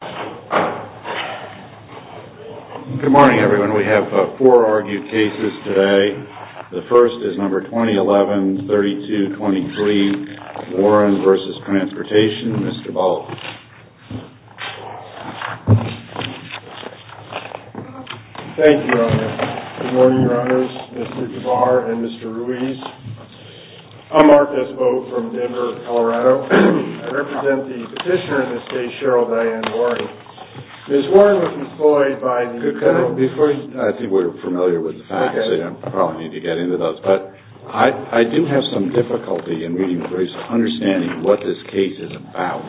Good morning, everyone. We have four argued cases today. The first is number 2011-3223, Warren v. Transportation, Mr. Baldwin. Thank you, Your Honor. Good morning, Your Honors, Mr. Gavar, and Mr. Ruiz. I'm Marcus Vogt from Denver, Colorado. I represent the petitioner in this case, Cheryl Diane Warren. Ms. Warren was employed by the... Before you... I think we're familiar with the facts. I probably need to get into those. But I do have some difficulty in understanding what this case is about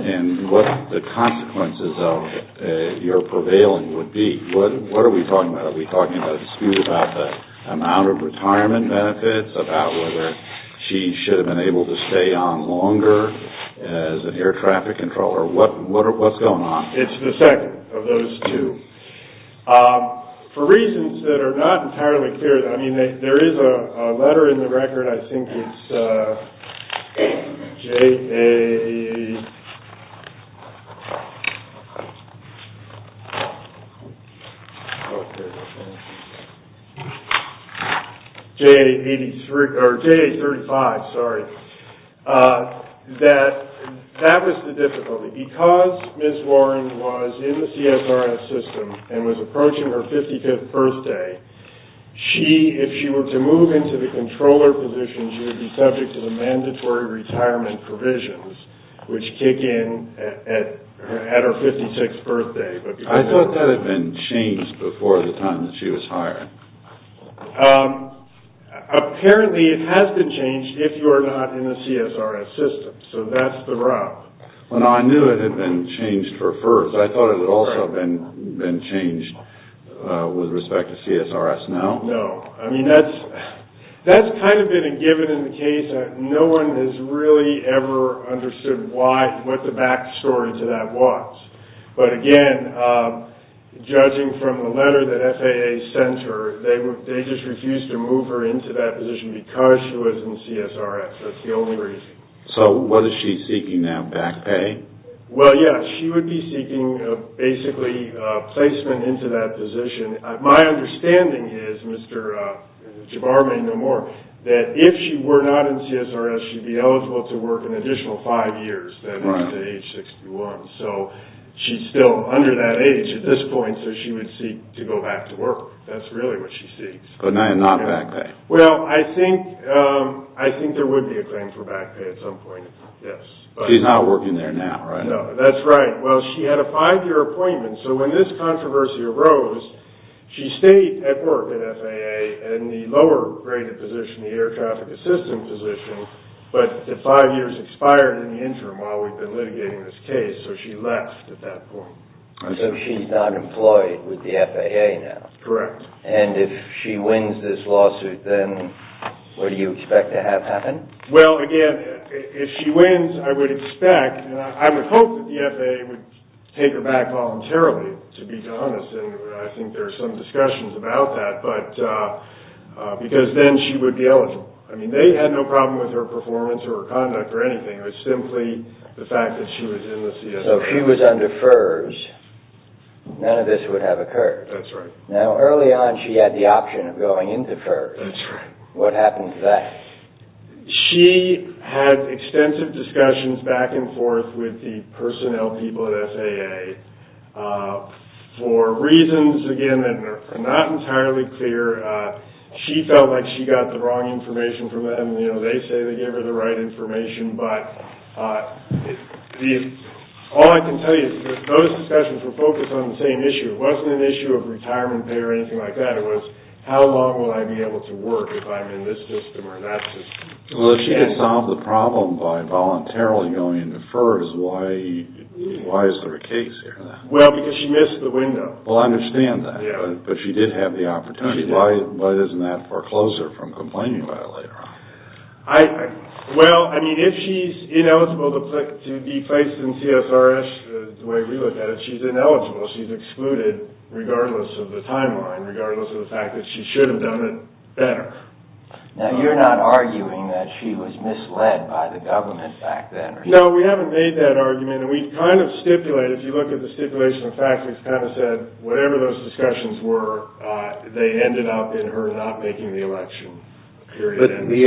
and what the consequences of your prevailing would be. What are we talking about? Are we talking about a dispute about the amount of retirement benefits, about whether she should have been able to stay on longer as an air traffic controller? What's going on? It's the second of those two. For reasons that are not entirely clear, I mean, there is a letter in the record. I think it's J.A... J.A. 85... J.A. 35, sorry. That was the difficulty. Because Ms. Warren was in the CSRS system and was approaching her 55th birthday, if she were to move into the controller position, she would be subject to the mandatory retirement provisions, which kick in at her 56th birthday. I thought that had been changed before the time that she was hired. Apparently, it has been changed if you are not in the CSRS system. So that's the route. Well, no, I knew it had been changed for first. I thought it would also have been changed with respect to CSRS. No. I mean, that's kind of been a given in the case. No one has really ever understood what the backstory to that was. But again, judging from the letter that FAA sent her, they just refused to move her into that position because she was in CSRS. That's the only reason. So was she seeking that back pay? Well, yes. She would be seeking, basically, placement into that position. My understanding is, Mr. Jabbar may know more, that if she were not in CSRS, she would be eligible to work an additional five years, that is to age 61. So she's still under that age at this point, so she would seek to go back to work. That's really what she seeks. But not back pay. Well, I think there would be a claim for back pay at some point, yes. She's not working there now, right? No, that's right. Well, she had a five-year appointment, so when this controversy arose, she stayed at work at FAA in the lower-graded position, the air traffic assistance position, but the five years expired in the interim while we've been litigating this case, so she left at that point. So she's not employed with the FAA now. Correct. And if she wins this lawsuit, then what do you expect to have happen? Well, again, if she wins, I would expect, and I would hope that the FAA would take her back voluntarily, to be honest, and I think there are some discussions about that, because then she would be eligible. I mean, they had no problem with her performance or her conduct or anything. It was simply the fact that she was in the CSRS. So if she was under FERS, none of this would have occurred. That's right. Now, early on she had the option of going into FERS. That's right. What happened to that? She had extensive discussions back and forth with the personnel people at FAA. For reasons, again, that are not entirely clear, she felt like she got the wrong information from them. You know, they say they gave her the right information, but all I can tell you is that those discussions were focused on the same issue. It wasn't an issue of retirement pay or anything like that. It was how long would I be able to work if I'm in this system or that system. Well, if she could solve the problem by voluntarily going into FERS, why is there a case here? Well, because she missed the window. Well, I understand that, but she did have the opportunity. Why doesn't that foreclose her from complaining about it later on? Well, I mean, if she's ineligible to be placed in CSRS the way we look at it, she's ineligible. She's excluded regardless of the timeline, regardless of the fact that she should have done it better. Now, you're not arguing that she was misled by the government back then? No, we haven't made that argument, and we've kind of stipulated, if you look at the stipulation of facts, we've kind of said whatever those discussions were, they ended up in her not making the election. But the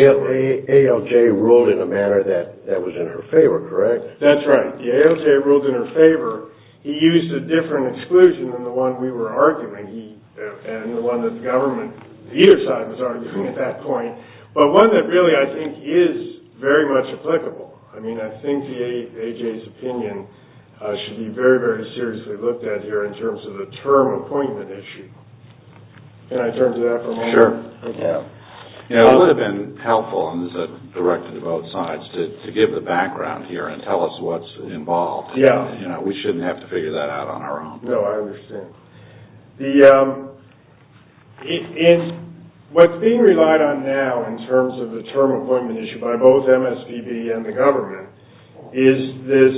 ALJ ruled in a manner that was in her favor, correct? That's right. The ALJ ruled in her favor. He used a different exclusion than the one we were arguing, and the one that the government on either side was arguing at that point, but one that really I think is very much applicable. I mean, I think the ALJ's opinion should be very, very seriously looked at here in terms of the term appointment issue. Can I turn to that for a moment? Sure. It would have been helpful, and this is directed to both sides, to give the background here and tell us what's involved. We shouldn't have to figure that out on our own. No, I understand. What's being relied on now in terms of the term appointment issue by both MSPB and the government is this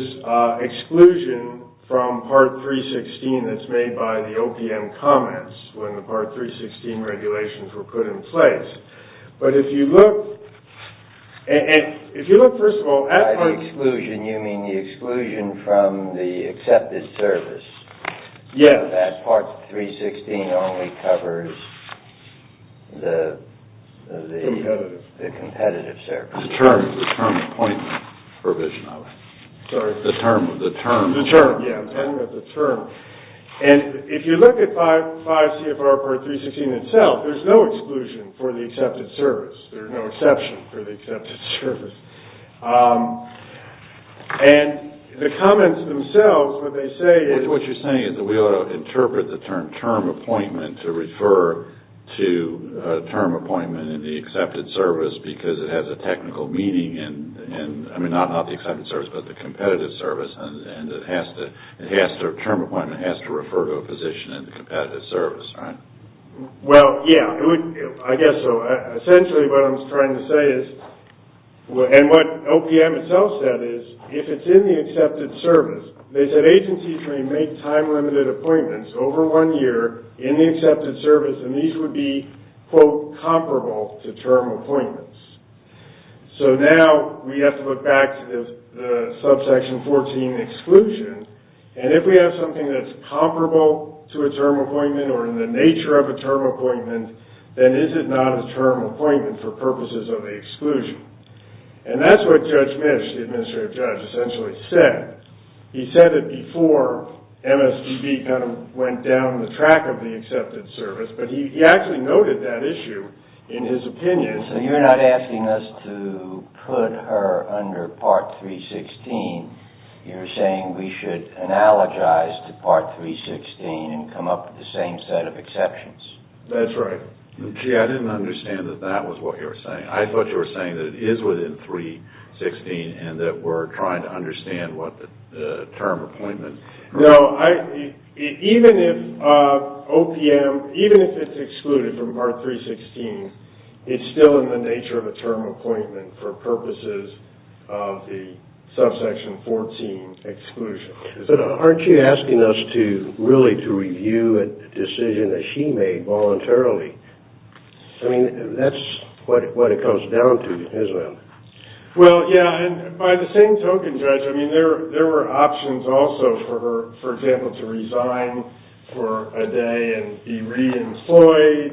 exclusion from Part 316 that's made by the OPM comments when the Part 316 regulations were put in place. But if you look, and if you look, first of all, By the exclusion, you mean the exclusion from the accepted service. Yes. That Part 316 only covers the competitive service. The term appointment provision of it. Sorry? The term. The term. Yeah, the term. And if you look at 5 CFR Part 316 itself, there's no exclusion for the accepted service. There's no exception for the accepted service. And the comments themselves, what they say is What you're saying is that we ought to interpret the term, term appointment, to refer to term appointment in the accepted service because it has a technical meaning in, I mean, not the accepted service, but the competitive service, and the term appointment has to refer to a position in the competitive service, right? Well, yeah, I guess so. Essentially what I'm trying to say is, and what OPM itself said is, if it's in the accepted service, they said agencies may make time-limited appointments over one year in the accepted service, and these would be, quote, comparable to term appointments. So now we have to look back to the Subsection 14 exclusion, and if we have something that's comparable to a term appointment or in the nature of a term appointment, then is it not a term appointment for purposes of the exclusion? And that's what Judge Misch, the administrative judge, essentially said. He said it before MSDB kind of went down the track of the accepted service, but he actually noted that issue in his opinion. So you're not asking us to put her under Part 316. You're saying we should analogize to Part 316 and come up with the same set of exceptions. That's right. Gee, I didn't understand that that was what you were saying. I thought you were saying that it is within 316 and that we're trying to understand what the term appointment is. No, even if OPM, even if it's excluded from Part 316, it's still in the nature of a term appointment for purposes of the Subsection 14 exclusion. But aren't you asking us to really to review a decision that she made voluntarily? I mean, that's what it comes down to, isn't it? Well, yeah, and by the same token, Judge, I mean, there were options also for her, for example, to resign for a day and be re-employed.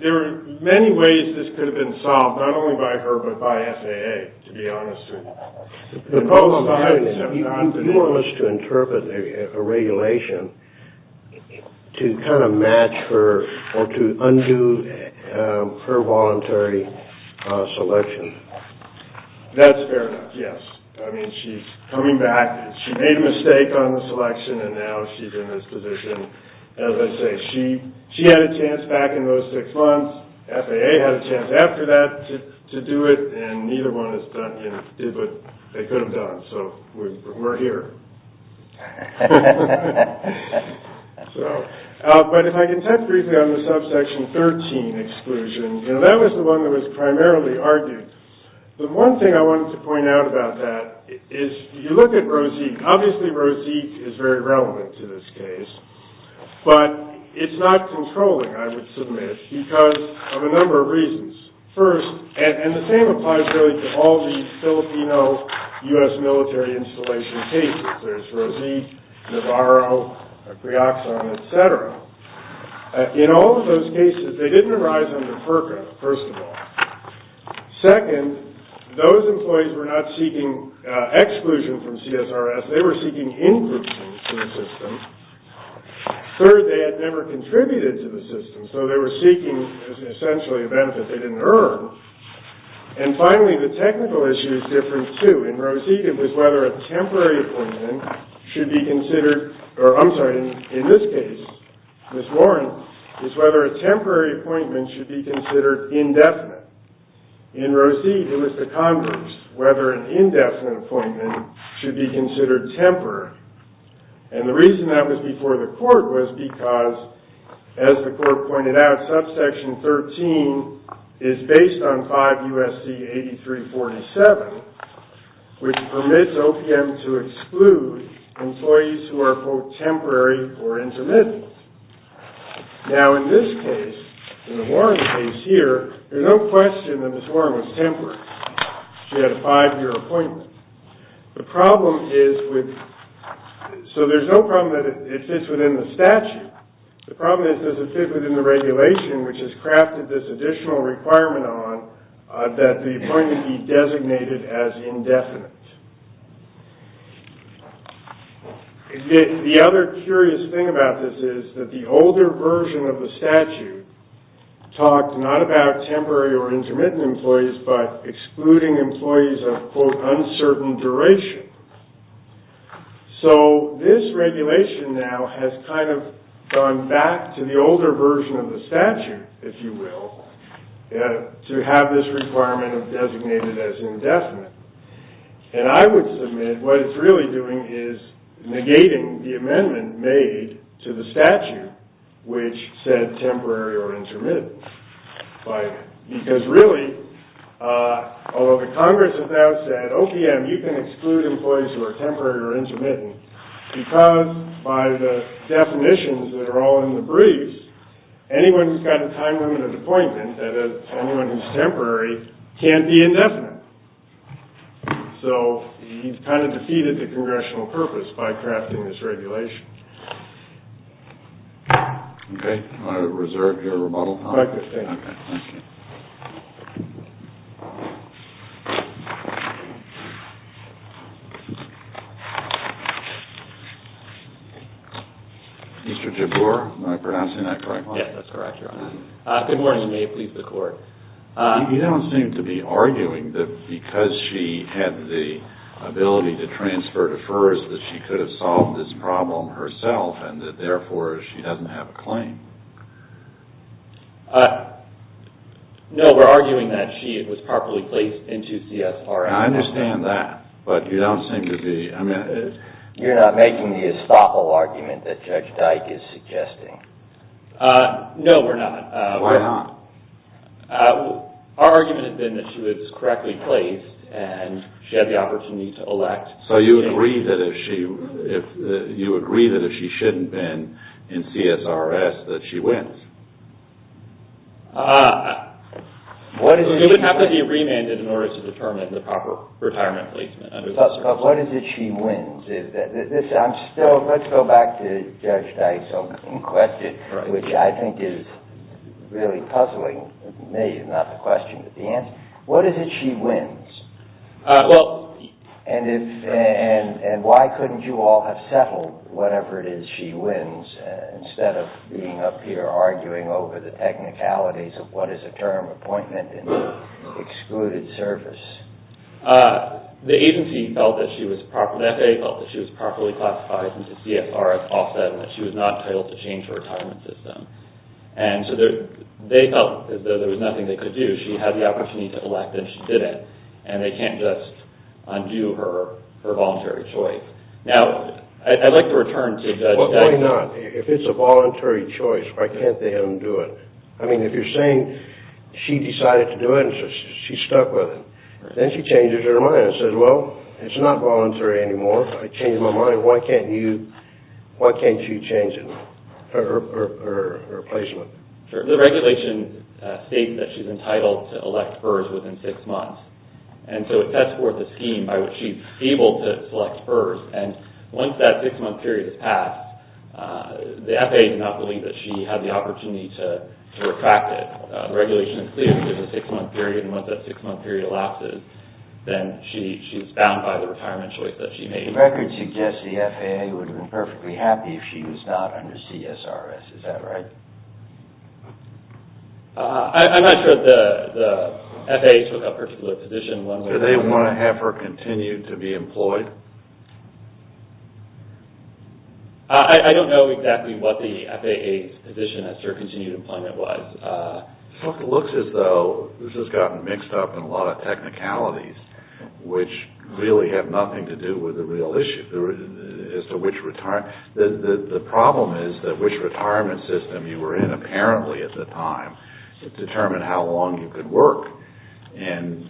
There are many ways this could have been solved, not only by her, but by SAA, to be honest with you. The problem is you want us to interpret a regulation to kind of match her or to undo her voluntary selection. That's fair enough, yes. I mean, she's coming back. She made a mistake on the selection, and now she's in this position. As I say, she had a chance back in those six months. SAA had a chance after that to do it, and neither one has done, you know, did what they could have done. So we're here. But if I can touch briefly on the Subsection 13 exclusion, you know, that was the one that was primarily argued. The one thing I wanted to point out about that is you look at Rosique. Obviously, Rosique is very relevant to this case, but it's not controlling, I would submit, because of a number of reasons. First, and the same applies really to all the Filipino U.S. military installation cases. There's Rosique, Navarro, Greoxon, et cetera. In all of those cases, they didn't arise under FERCA, first of all. Second, those employees were not seeking exclusion from CSRS. They were seeking in-groups in the system. Third, they had never contributed to the system, so they were seeking essentially a benefit they didn't earn. And finally, the technical issue is different, too. In Rosique, it was whether a temporary appointment should be considered or, I'm sorry, in this case, Ms. Warren, is whether a temporary appointment should be considered indefinite. In Rosique, it was the Congress, whether an indefinite appointment should be considered temporary. And the reason that was before the court was because, as the court pointed out, Subsection 13 is based on 5 U.S.C. 8347, which permits OPM to exclude employees who are, quote, temporary or intermittent. Now, in this case, in the Warren case here, there's no question that Ms. Warren was temporary. She had a 5-year appointment. The problem is with, so there's no problem that it fits within the statute. The problem is does it fit within the regulation, which has crafted this additional requirement on that the appointment be designated as indefinite. The other curious thing about this is that the older version of the statute talked not about temporary or intermittent employees, but excluding employees of, quote, uncertain duration. So this regulation now has kind of gone back to the older version of the statute, if you will, to have this requirement designated as indefinite. And I would submit what it's really doing is negating the amendment made to the statute, which said temporary or intermittent. Because really, although the Congress has now said, OPM, you can exclude employees who are temporary or intermittent, because by the definitions that are all in the briefs, anyone who's got a time limit of appointment, anyone who's temporary, can't be indefinite. So he's kind of defeated the congressional purpose by crafting this regulation. Okay. I reserve your rebuttal. Thank you. Okay. Thank you. Mr. Jabor, am I pronouncing that correctly? Yes, that's correct, Your Honor. Good morning, and may it please the Court. You don't seem to be arguing that because she had the ability to transfer to FERS, that she could have solved this problem herself, and that therefore she doesn't have a claim. No, we're arguing that she was properly placed into CSRF. I understand that, but you don't seem to be – You're not making the estoppel argument that Judge Dyke is suggesting. No, we're not. Why not? Our argument has been that she was correctly placed, and she had the opportunity to elect. So you agree that if she shouldn't have been in CSRS, that she wins? It would have to be remanded in order to determine the proper retirement placement. But what is it she wins? Let's go back to Judge Dyke's question, which I think is really puzzling me, not the question, but the answer. What is it she wins? And why couldn't you all have settled whatever it is she wins, instead of being up here arguing over the technicalities of what is a term appointment in excluded service? The agency felt that she was properly – the FAA felt that she was properly classified into CSRF offset, and that she was not entitled to change her retirement system. And so they felt as though there was nothing they could do. She had the opportunity to elect, and she didn't. And they can't just undo her voluntary choice. Now, I'd like to return to Judge Dyke – Why not? If it's a voluntary choice, why can't they undo it? I mean, if you're saying she decided to do it and she's stuck with it, then she changes her mind and says, Well, it's not voluntary anymore. I changed my mind. Why can't you change her placement? The regulation states that she's entitled to elect hers within six months. And so it sets forth a scheme by which she's able to select hers. And once that six-month period has passed, the FAA did not believe that she had the opportunity to retract it. The regulation is clear that there's a six-month period, and once that six-month period elapses, then she's bound by the retirement choice that she made. The record suggests the FAA would have been perfectly happy if she was not under CSRS. Is that right? I'm not sure the FAA took up her position. Do they want to have her continue to be employed? I don't know exactly what the FAA's position as to her continued employment was. It looks as though this has gotten mixed up in a lot of technicalities, which really have nothing to do with the real issue as to which retirement. The problem is that which retirement system you were in apparently at the time determined how long you could work. And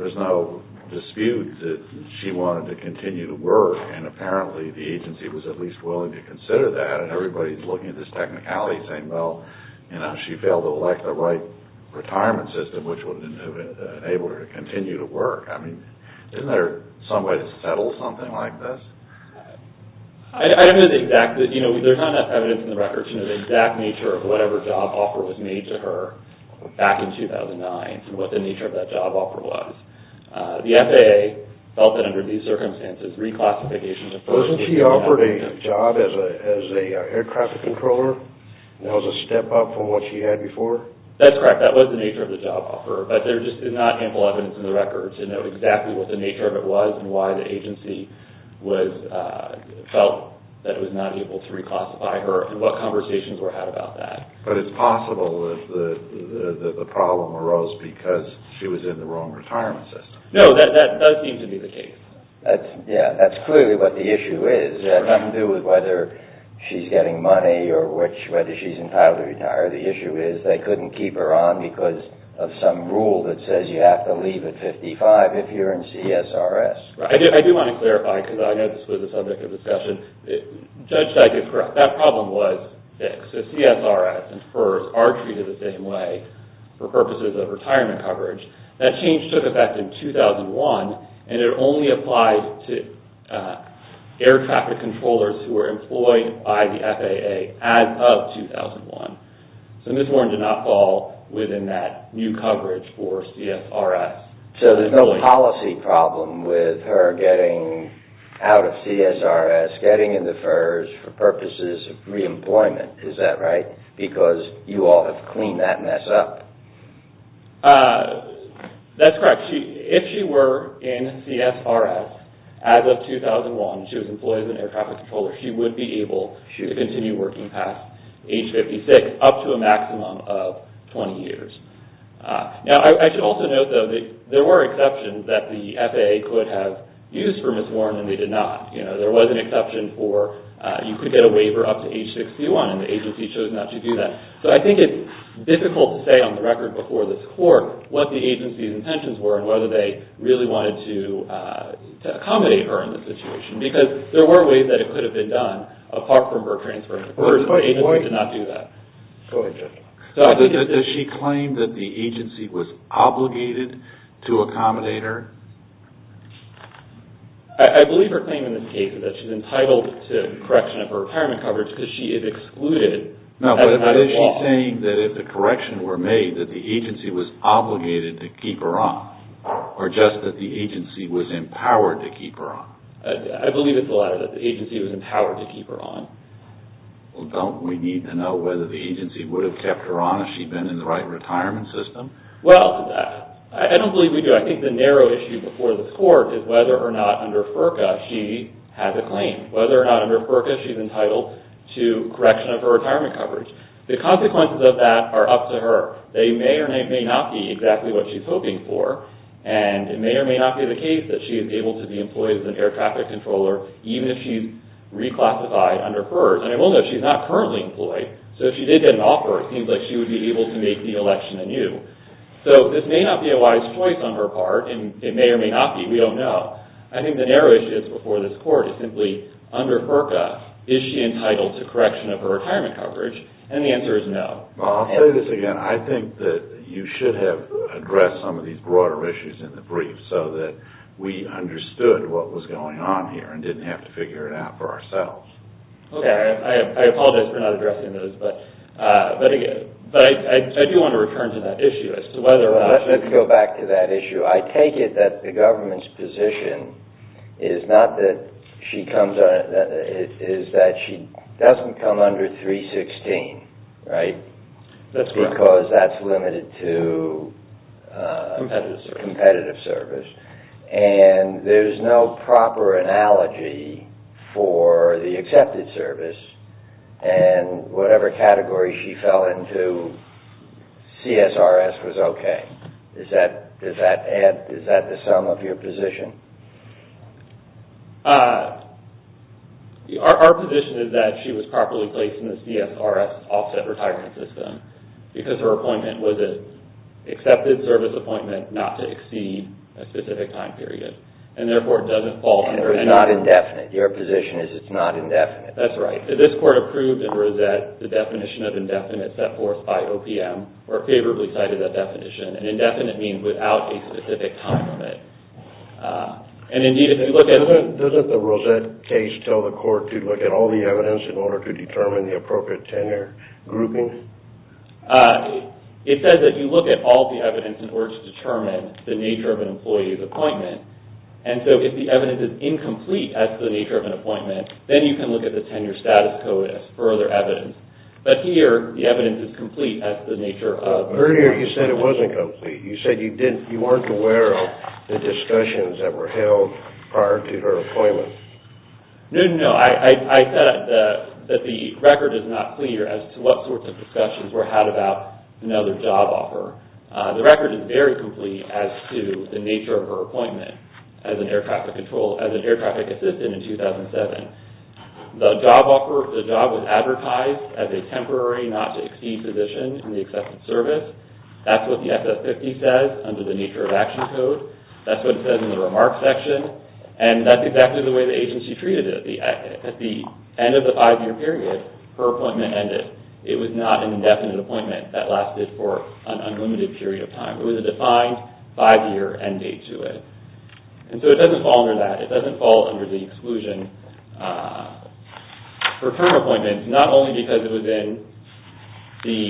there's no dispute that she wanted to continue to work, and apparently the agency was at least willing to consider that. And everybody's looking at this technicality saying, well, she failed to elect the right retirement system, which would have enabled her to continue to work. Isn't there some way to settle something like this? I don't know the exact. There's not enough evidence in the records. to know the exact nature of whatever job offer was made to her back in 2009 and what the nature of that job offer was. The FAA felt that under these circumstances, reclassification to first Didn't she offer a job as an air traffic controller? That was a step up from what she had before? That's correct. That was the nature of the job offer, but there's just not ample evidence in the records to know exactly what the nature of it was and why the agency felt that it was not able to reclassify her and what conversations were had about that. But it's possible that the problem arose because she was in the wrong retirement system. No, that does seem to be the case. Yeah, that's clearly what the issue is. It has nothing to do with whether she's getting money or whether she's entitled to retire. The issue is they couldn't keep her on because of some rule that says you have to leave at 55 if you're in CSRS. I do want to clarify, because I know this was a subject of discussion. Judge Dyke is correct. That problem was fixed. So CSRS and FERS are treated the same way for purposes of retirement coverage. That change took effect in 2001, and it only applied to air traffic controllers who were employed by the FAA as of 2001. So Ms. Warren did not fall within that new coverage for CSRS. So there's no policy problem with her getting out of CSRS, getting into FERS for purposes of reemployment. Is that right? Because you all have cleaned that mess up. That's correct. If she were in CSRS as of 2001, she was employed as an air traffic controller, she would be able to continue working past age 56 up to a maximum of 20 years. Now, I should also note, though, that there were exceptions that the FAA could have used for Ms. Warren, and they did not. There was an exception for you could get a waiver up to age 61, and the agency chose not to do that. So I think it's difficult to say on the record before this court what the agency's intentions were and whether they really wanted to accommodate her in this situation because there were ways that it could have been done apart from her transferring to FERS, but the agency did not do that. Does she claim that the agency was obligated to accommodate her? I believe her claim in this case is that she's entitled to correction of her retirement coverage because she is excluded. No, but is she saying that if the corrections were made, that the agency was obligated to keep her on or just that the agency was empowered to keep her on? I believe it's the latter, that the agency was empowered to keep her on. Well, don't we need to know whether the agency would have kept her on if she'd been in the right retirement system? Well, I don't believe we do. I think the narrow issue before this court is whether or not under FERCA she has a claim, whether or not under FERCA she's entitled to correction of her retirement coverage. The consequences of that are up to her. They may or may not be exactly what she's hoping for, and it may or may not be the case that she is able to be employed as an air traffic controller even if she's reclassified under FERS. And we'll know she's not currently employed, so if she did get an offer, it seems like she would be able to make the election anew. So this may not be a wise choice on her part, and it may or may not be. We don't know. I think the narrow issue that's before this court is simply under FERCA, is she entitled to correction of her retirement coverage? And the answer is no. I think that you should have addressed some of these broader issues in the brief so that we understood what was going on here and didn't have to figure it out for ourselves. Okay. I apologize for not addressing those, but I do want to return to that issue as to whether or not... Let's go back to that issue. I take it that the government's position is not that she comes under... is that she doesn't come under 316, right? That's correct. Because that's limited to... Competitive service. And there's no proper analogy for the accepted service, and whatever category she fell into, CSRS was okay. Is that the sum of your position? Our position is that she was properly placed in the CSRS offset retirement system because her appointment was an accepted service appointment not to exceed a specific time period. And therefore, it doesn't fall under... And it was not indefinite. Your position is it's not indefinite. That's right. This court approved in Rosette the definition of indefinite set forth by OPM or favorably cited that definition. And indefinite means without a specific time limit. And indeed, if you look at... Doesn't the Rosette case tell the court to look at all the evidence in order to determine the appropriate tenure grouping? It says that you look at all the evidence in order to determine the nature of an employee's appointment. And so if the evidence is incomplete as to the nature of an appointment, then you can look at the tenure status code as further evidence. But here, the evidence is complete as to the nature of... Earlier, you said it wasn't complete. You said you weren't aware of the discussions that were held prior to her appointment. No, no, no. I said that the record is not clear as to what sorts of discussions were had about another job offer. The record is very complete as to the nature of her appointment as an air traffic control, as an air traffic assistant in 2007. The job offer, the job was advertised as a temporary not to exceed position in the accepted service. That's what the SF-50 says under the nature of action code. That's what it says in the remarks section. And that's exactly the way the agency treated it. At the end of the five-year period, her appointment ended. It was not an indefinite appointment that lasted for an unlimited period of time. It was a defined five-year end date to it. And so it doesn't fall under that. It doesn't fall under the exclusion for term appointments, not only because it was in the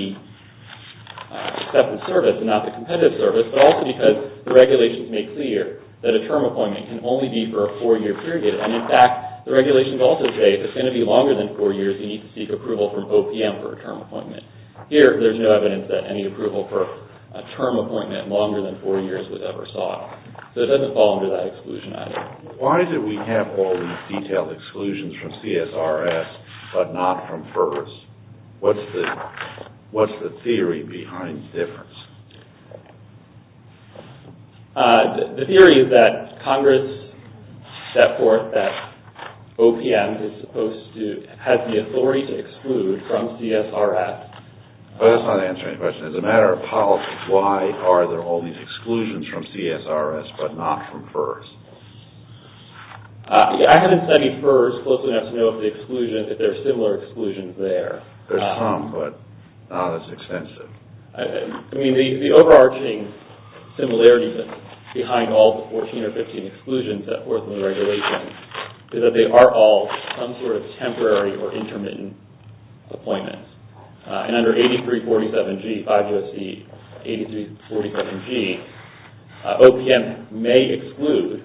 accepted service and not the competitive service, but also because the regulations make clear that a term appointment can only be for a four-year period. And, in fact, the regulations also say if it's going to be longer than four years, you need to seek approval from OPM for a term appointment. Here, there's no evidence that any approval for a term appointment longer than four years was ever sought. So it doesn't fall under that exclusion item. Why do we have all these detailed exclusions from CSRS but not from FERS? What's the theory behind the difference? The theory is that Congress set forth that OPM is supposed to have the authority to exclude from CSRS. That's not answering the question. As a matter of policy, why are there all these exclusions from CSRS but not from FERS? I haven't studied FERS closely enough to know if there are similar exclusions there. There's some, but not as extensive. The overarching similarity behind all the 14 or 15 exclusions that were in the regulations is that they are all some sort of temporary or intermittent appointments. And under 8347G, OPM may exclude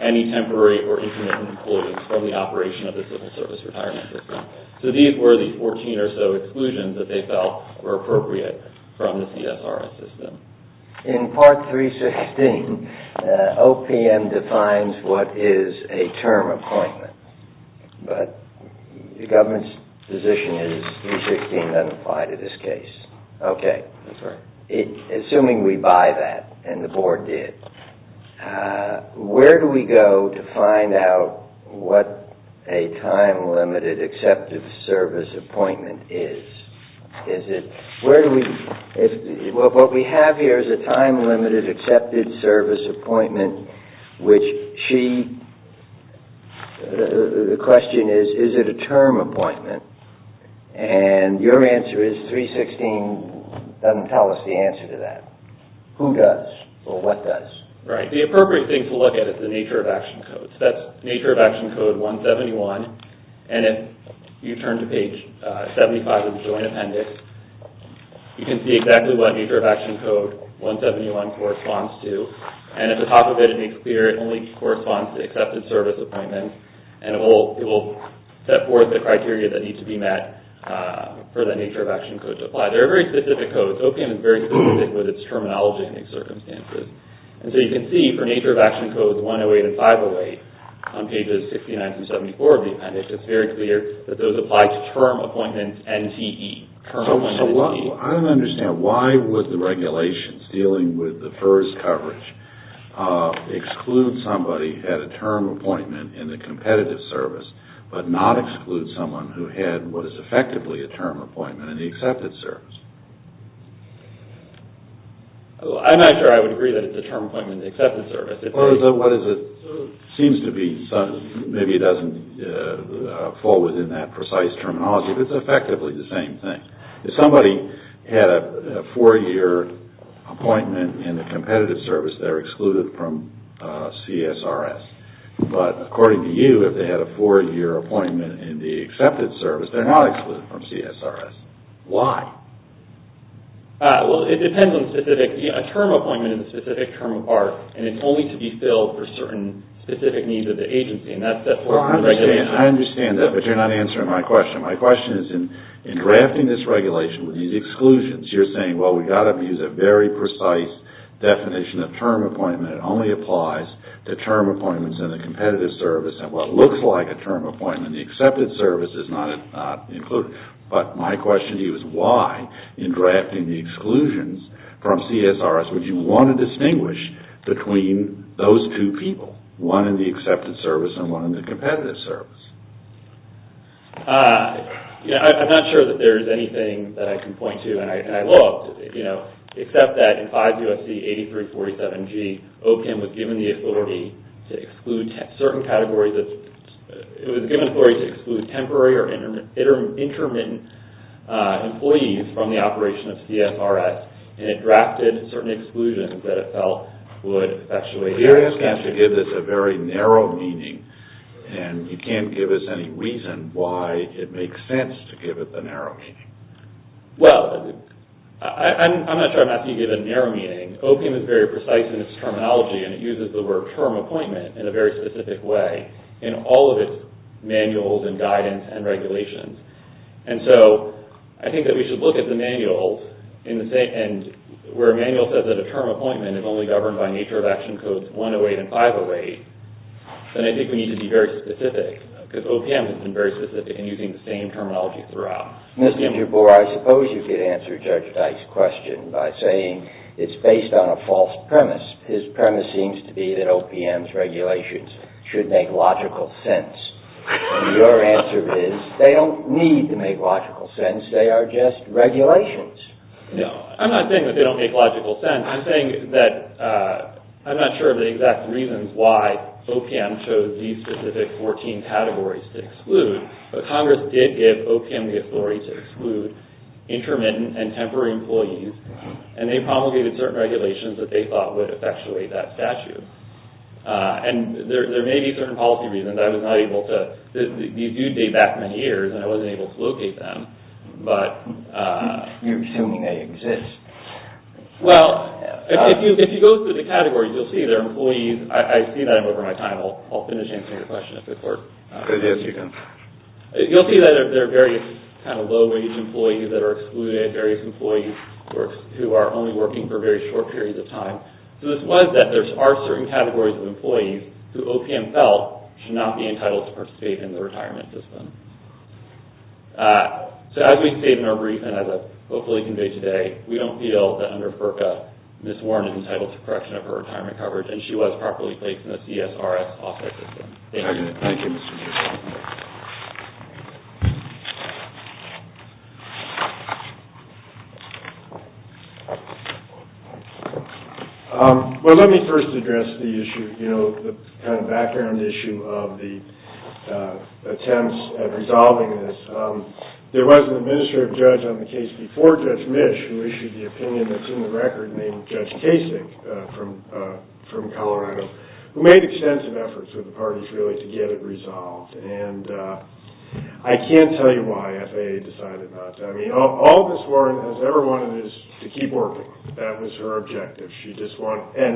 any temporary or intermittent appointments from the operation of the civil service retirement system. So these were the 14 or so exclusions that they felt were appropriate from the CSRS system. In Part 316, OPM defines what is a term appointment. But the government's position is 316 doesn't apply to this case. Okay. Assuming we buy that, and the board did, where do we go to find out what a time-limited accepted service appointment is? What we have here is a time-limited accepted service appointment, which she... The question is, is it a term appointment? And your answer is 316 doesn't tell us the answer to that. Who does, or what does? Right. The appropriate thing to look at is the nature of action codes. That's nature of action code 171. And if you turn to page 75 of the joint appendix, you can see exactly what nature of action code 171 corresponds to. And at the top of it, it makes clear it only corresponds to accepted service appointments. And it will set forth the criteria that need to be met for the nature of action code to apply. They're very specific codes. OPM is very specific with its terminology and its circumstances. And so you can see for nature of action codes 108 and 508 on pages 69 and 74 of the appendix, it's very clear that those apply to term appointments NTE. Term appointments NTE. I don't understand. Why would the regulations dealing with the FERS coverage exclude somebody who had a term appointment in the competitive service, but not exclude someone who had what is effectively a term appointment in the accepted service? I'm not sure I would agree that it's a term appointment in the accepted service. What is it? It seems to be, maybe it doesn't fall within that precise terminology, but it's effectively the same thing. If somebody had a four-year appointment in the competitive service, they're excluded from CSRS. But according to you, if they had a four-year appointment in the accepted service, they're not excluded from CSRS. Why? Well, it depends on the specific. A term appointment is a specific term of art, and it's only to be filled for certain specific needs of the agency. I understand that, but you're not answering my question. My question is in drafting this regulation with these exclusions, you're saying, well, we've got to use a very precise definition of term appointment. It only applies to term appointments in the competitive service. Well, it looks like a term appointment in the accepted service is not included. But my question to you is why, in drafting the exclusions from CSRS, would you want to distinguish between those two people, one in the accepted service and one in the competitive service? I'm not sure that there is anything that I can point to, and I'd love to, except that in 5 U.S.C. 8347G, OPM was given the authority to exclude certain categories of – it was given authority to exclude temporary or intermittent employees from the operation of CSRS, and it drafted certain exclusions that it felt would effectuate – You're asking us to give this a very narrow meaning, and you can't give us any reason why it makes sense to give it the narrow meaning. Well, I'm not sure I'm asking you to give it a narrow meaning. OPM is very precise in its terminology, and it uses the word term appointment in a very specific way in all of its manuals and guidance and regulations. And so I think that we should look at the manual, and where a manual says that a term appointment is only governed by nature of action codes 108 and 508, then I think we need to be very specific, because OPM has been very specific in using the same terminology throughout. Mr. Jabour, I suppose you could answer Judge Dyke's question by saying it's based on a false premise. His premise seems to be that OPM's regulations should make logical sense. Your answer is they don't need to make logical sense. They are just regulations. No, I'm not saying that they don't make logical sense. I'm saying that I'm not sure of the exact reasons why OPM chose these specific 14 categories to exclude, but Congress did give OPM the authority to exclude intermittent and temporary employees, and they promulgated certain regulations that they thought would effectuate that statute. And there may be certain policy reasons. I was not able to – these do date back many years, and I wasn't able to locate them. You're assuming they exist. Well, if you go through the categories, you'll see there are employees – I see that I'm over my time. I'll finish answering your question if it works. It is, you can. You'll see that there are various kind of low-wage employees that are excluded, various employees who are only working for very short periods of time. So this was that there are certain categories of employees who OPM felt should not be entitled to participate in the retirement system. So as we state in our brief, and as I've hopefully conveyed today, we don't feel that under FERCA, Ms. Warren is entitled to correction of her retirement coverage, and she was properly placed in the CSRS offset system. Thank you. Well, let me first address the issue, you know, the kind of background issue of the attempts at resolving this. There was an administrative judge on the case before Judge Misch who issued the opinion that's in the record named Judge Kasich from Colorado who made extensive efforts with the parties really to get it resolved. And I can't tell you why FAA decided not to. I mean, all Ms. Warren has ever wanted is to keep working. That was her objective. And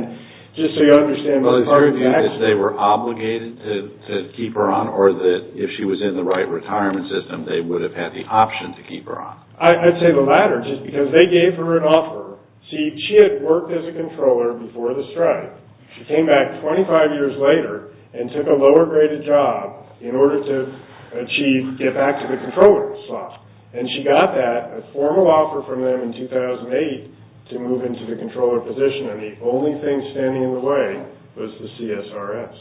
just so you understand, both parties… Well, is there a view that they were obligated to keep her on or that if she was in the right retirement system, they would have had the option to keep her on? I'd say the latter, just because they gave her an offer. See, she had worked as a controller before the strike. She came back 25 years later and took a lower-graded job in order to achieve get-back-to-the-controller slot. And she got that, a formal offer from them in 2008, to move into the controller position. And the only thing standing in the way was the CSRS.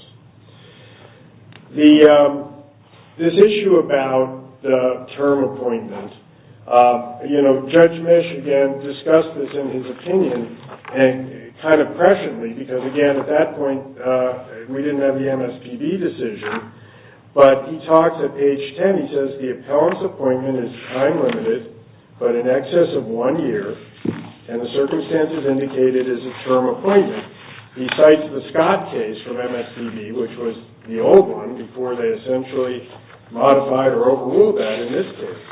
This issue about the term appointment, you know, Judge Misch, again, discussed this in his opinion and kind of pressured me because, again, at that point, we didn't have the MSPB decision. But he talks at page 10, he says, the appellant's appointment is time-limited but in excess of one year, and the circumstances indicated is a term appointment. He cites the Scott case from MSPB, which was the old one, before they essentially modified or overruled that in this case.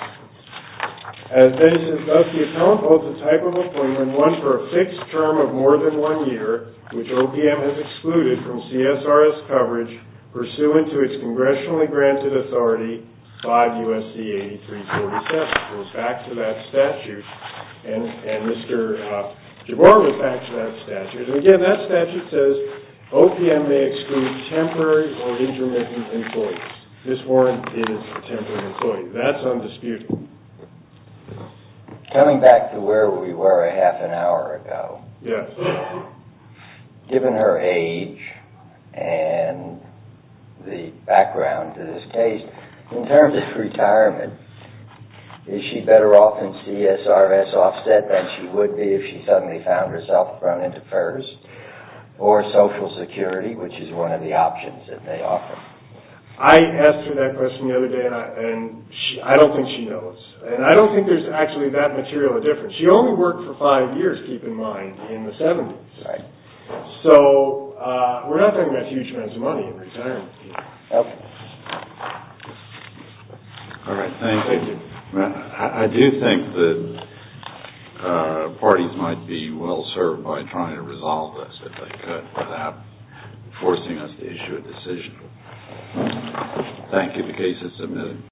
As they discussed, the appellant holds a type of appointment, one for a fixed term of more than one year, which OPM has excluded from CSRS coverage, pursuant to its congressionally-granted authority, 5 U.S.C. 8347. It goes back to that statute. And Mr. Giroir went back to that statute. And, again, that statute says, OPM may exclude temporary or intermittent employees. This warrant is for temporary employees. That's undisputable. Coming back to where we were a half an hour ago. Yes. Given her age and the background to this case, in terms of retirement, is she better off in CSRS offset than she would be if she suddenly found herself thrown into FERS or Social Security, which is one of the options that they offer? I asked her that question the other day, and I don't think she knows. And I don't think there's actually that material difference. She only worked for five years, keep in mind, in the 70s. Right. So we're not talking about huge amounts of money in retirement. Okay. All right, thank you. Thank you. I do think that parties might be well-served by trying to resolve this if they could without forcing us to issue a decision. Thank you. The case is submitted.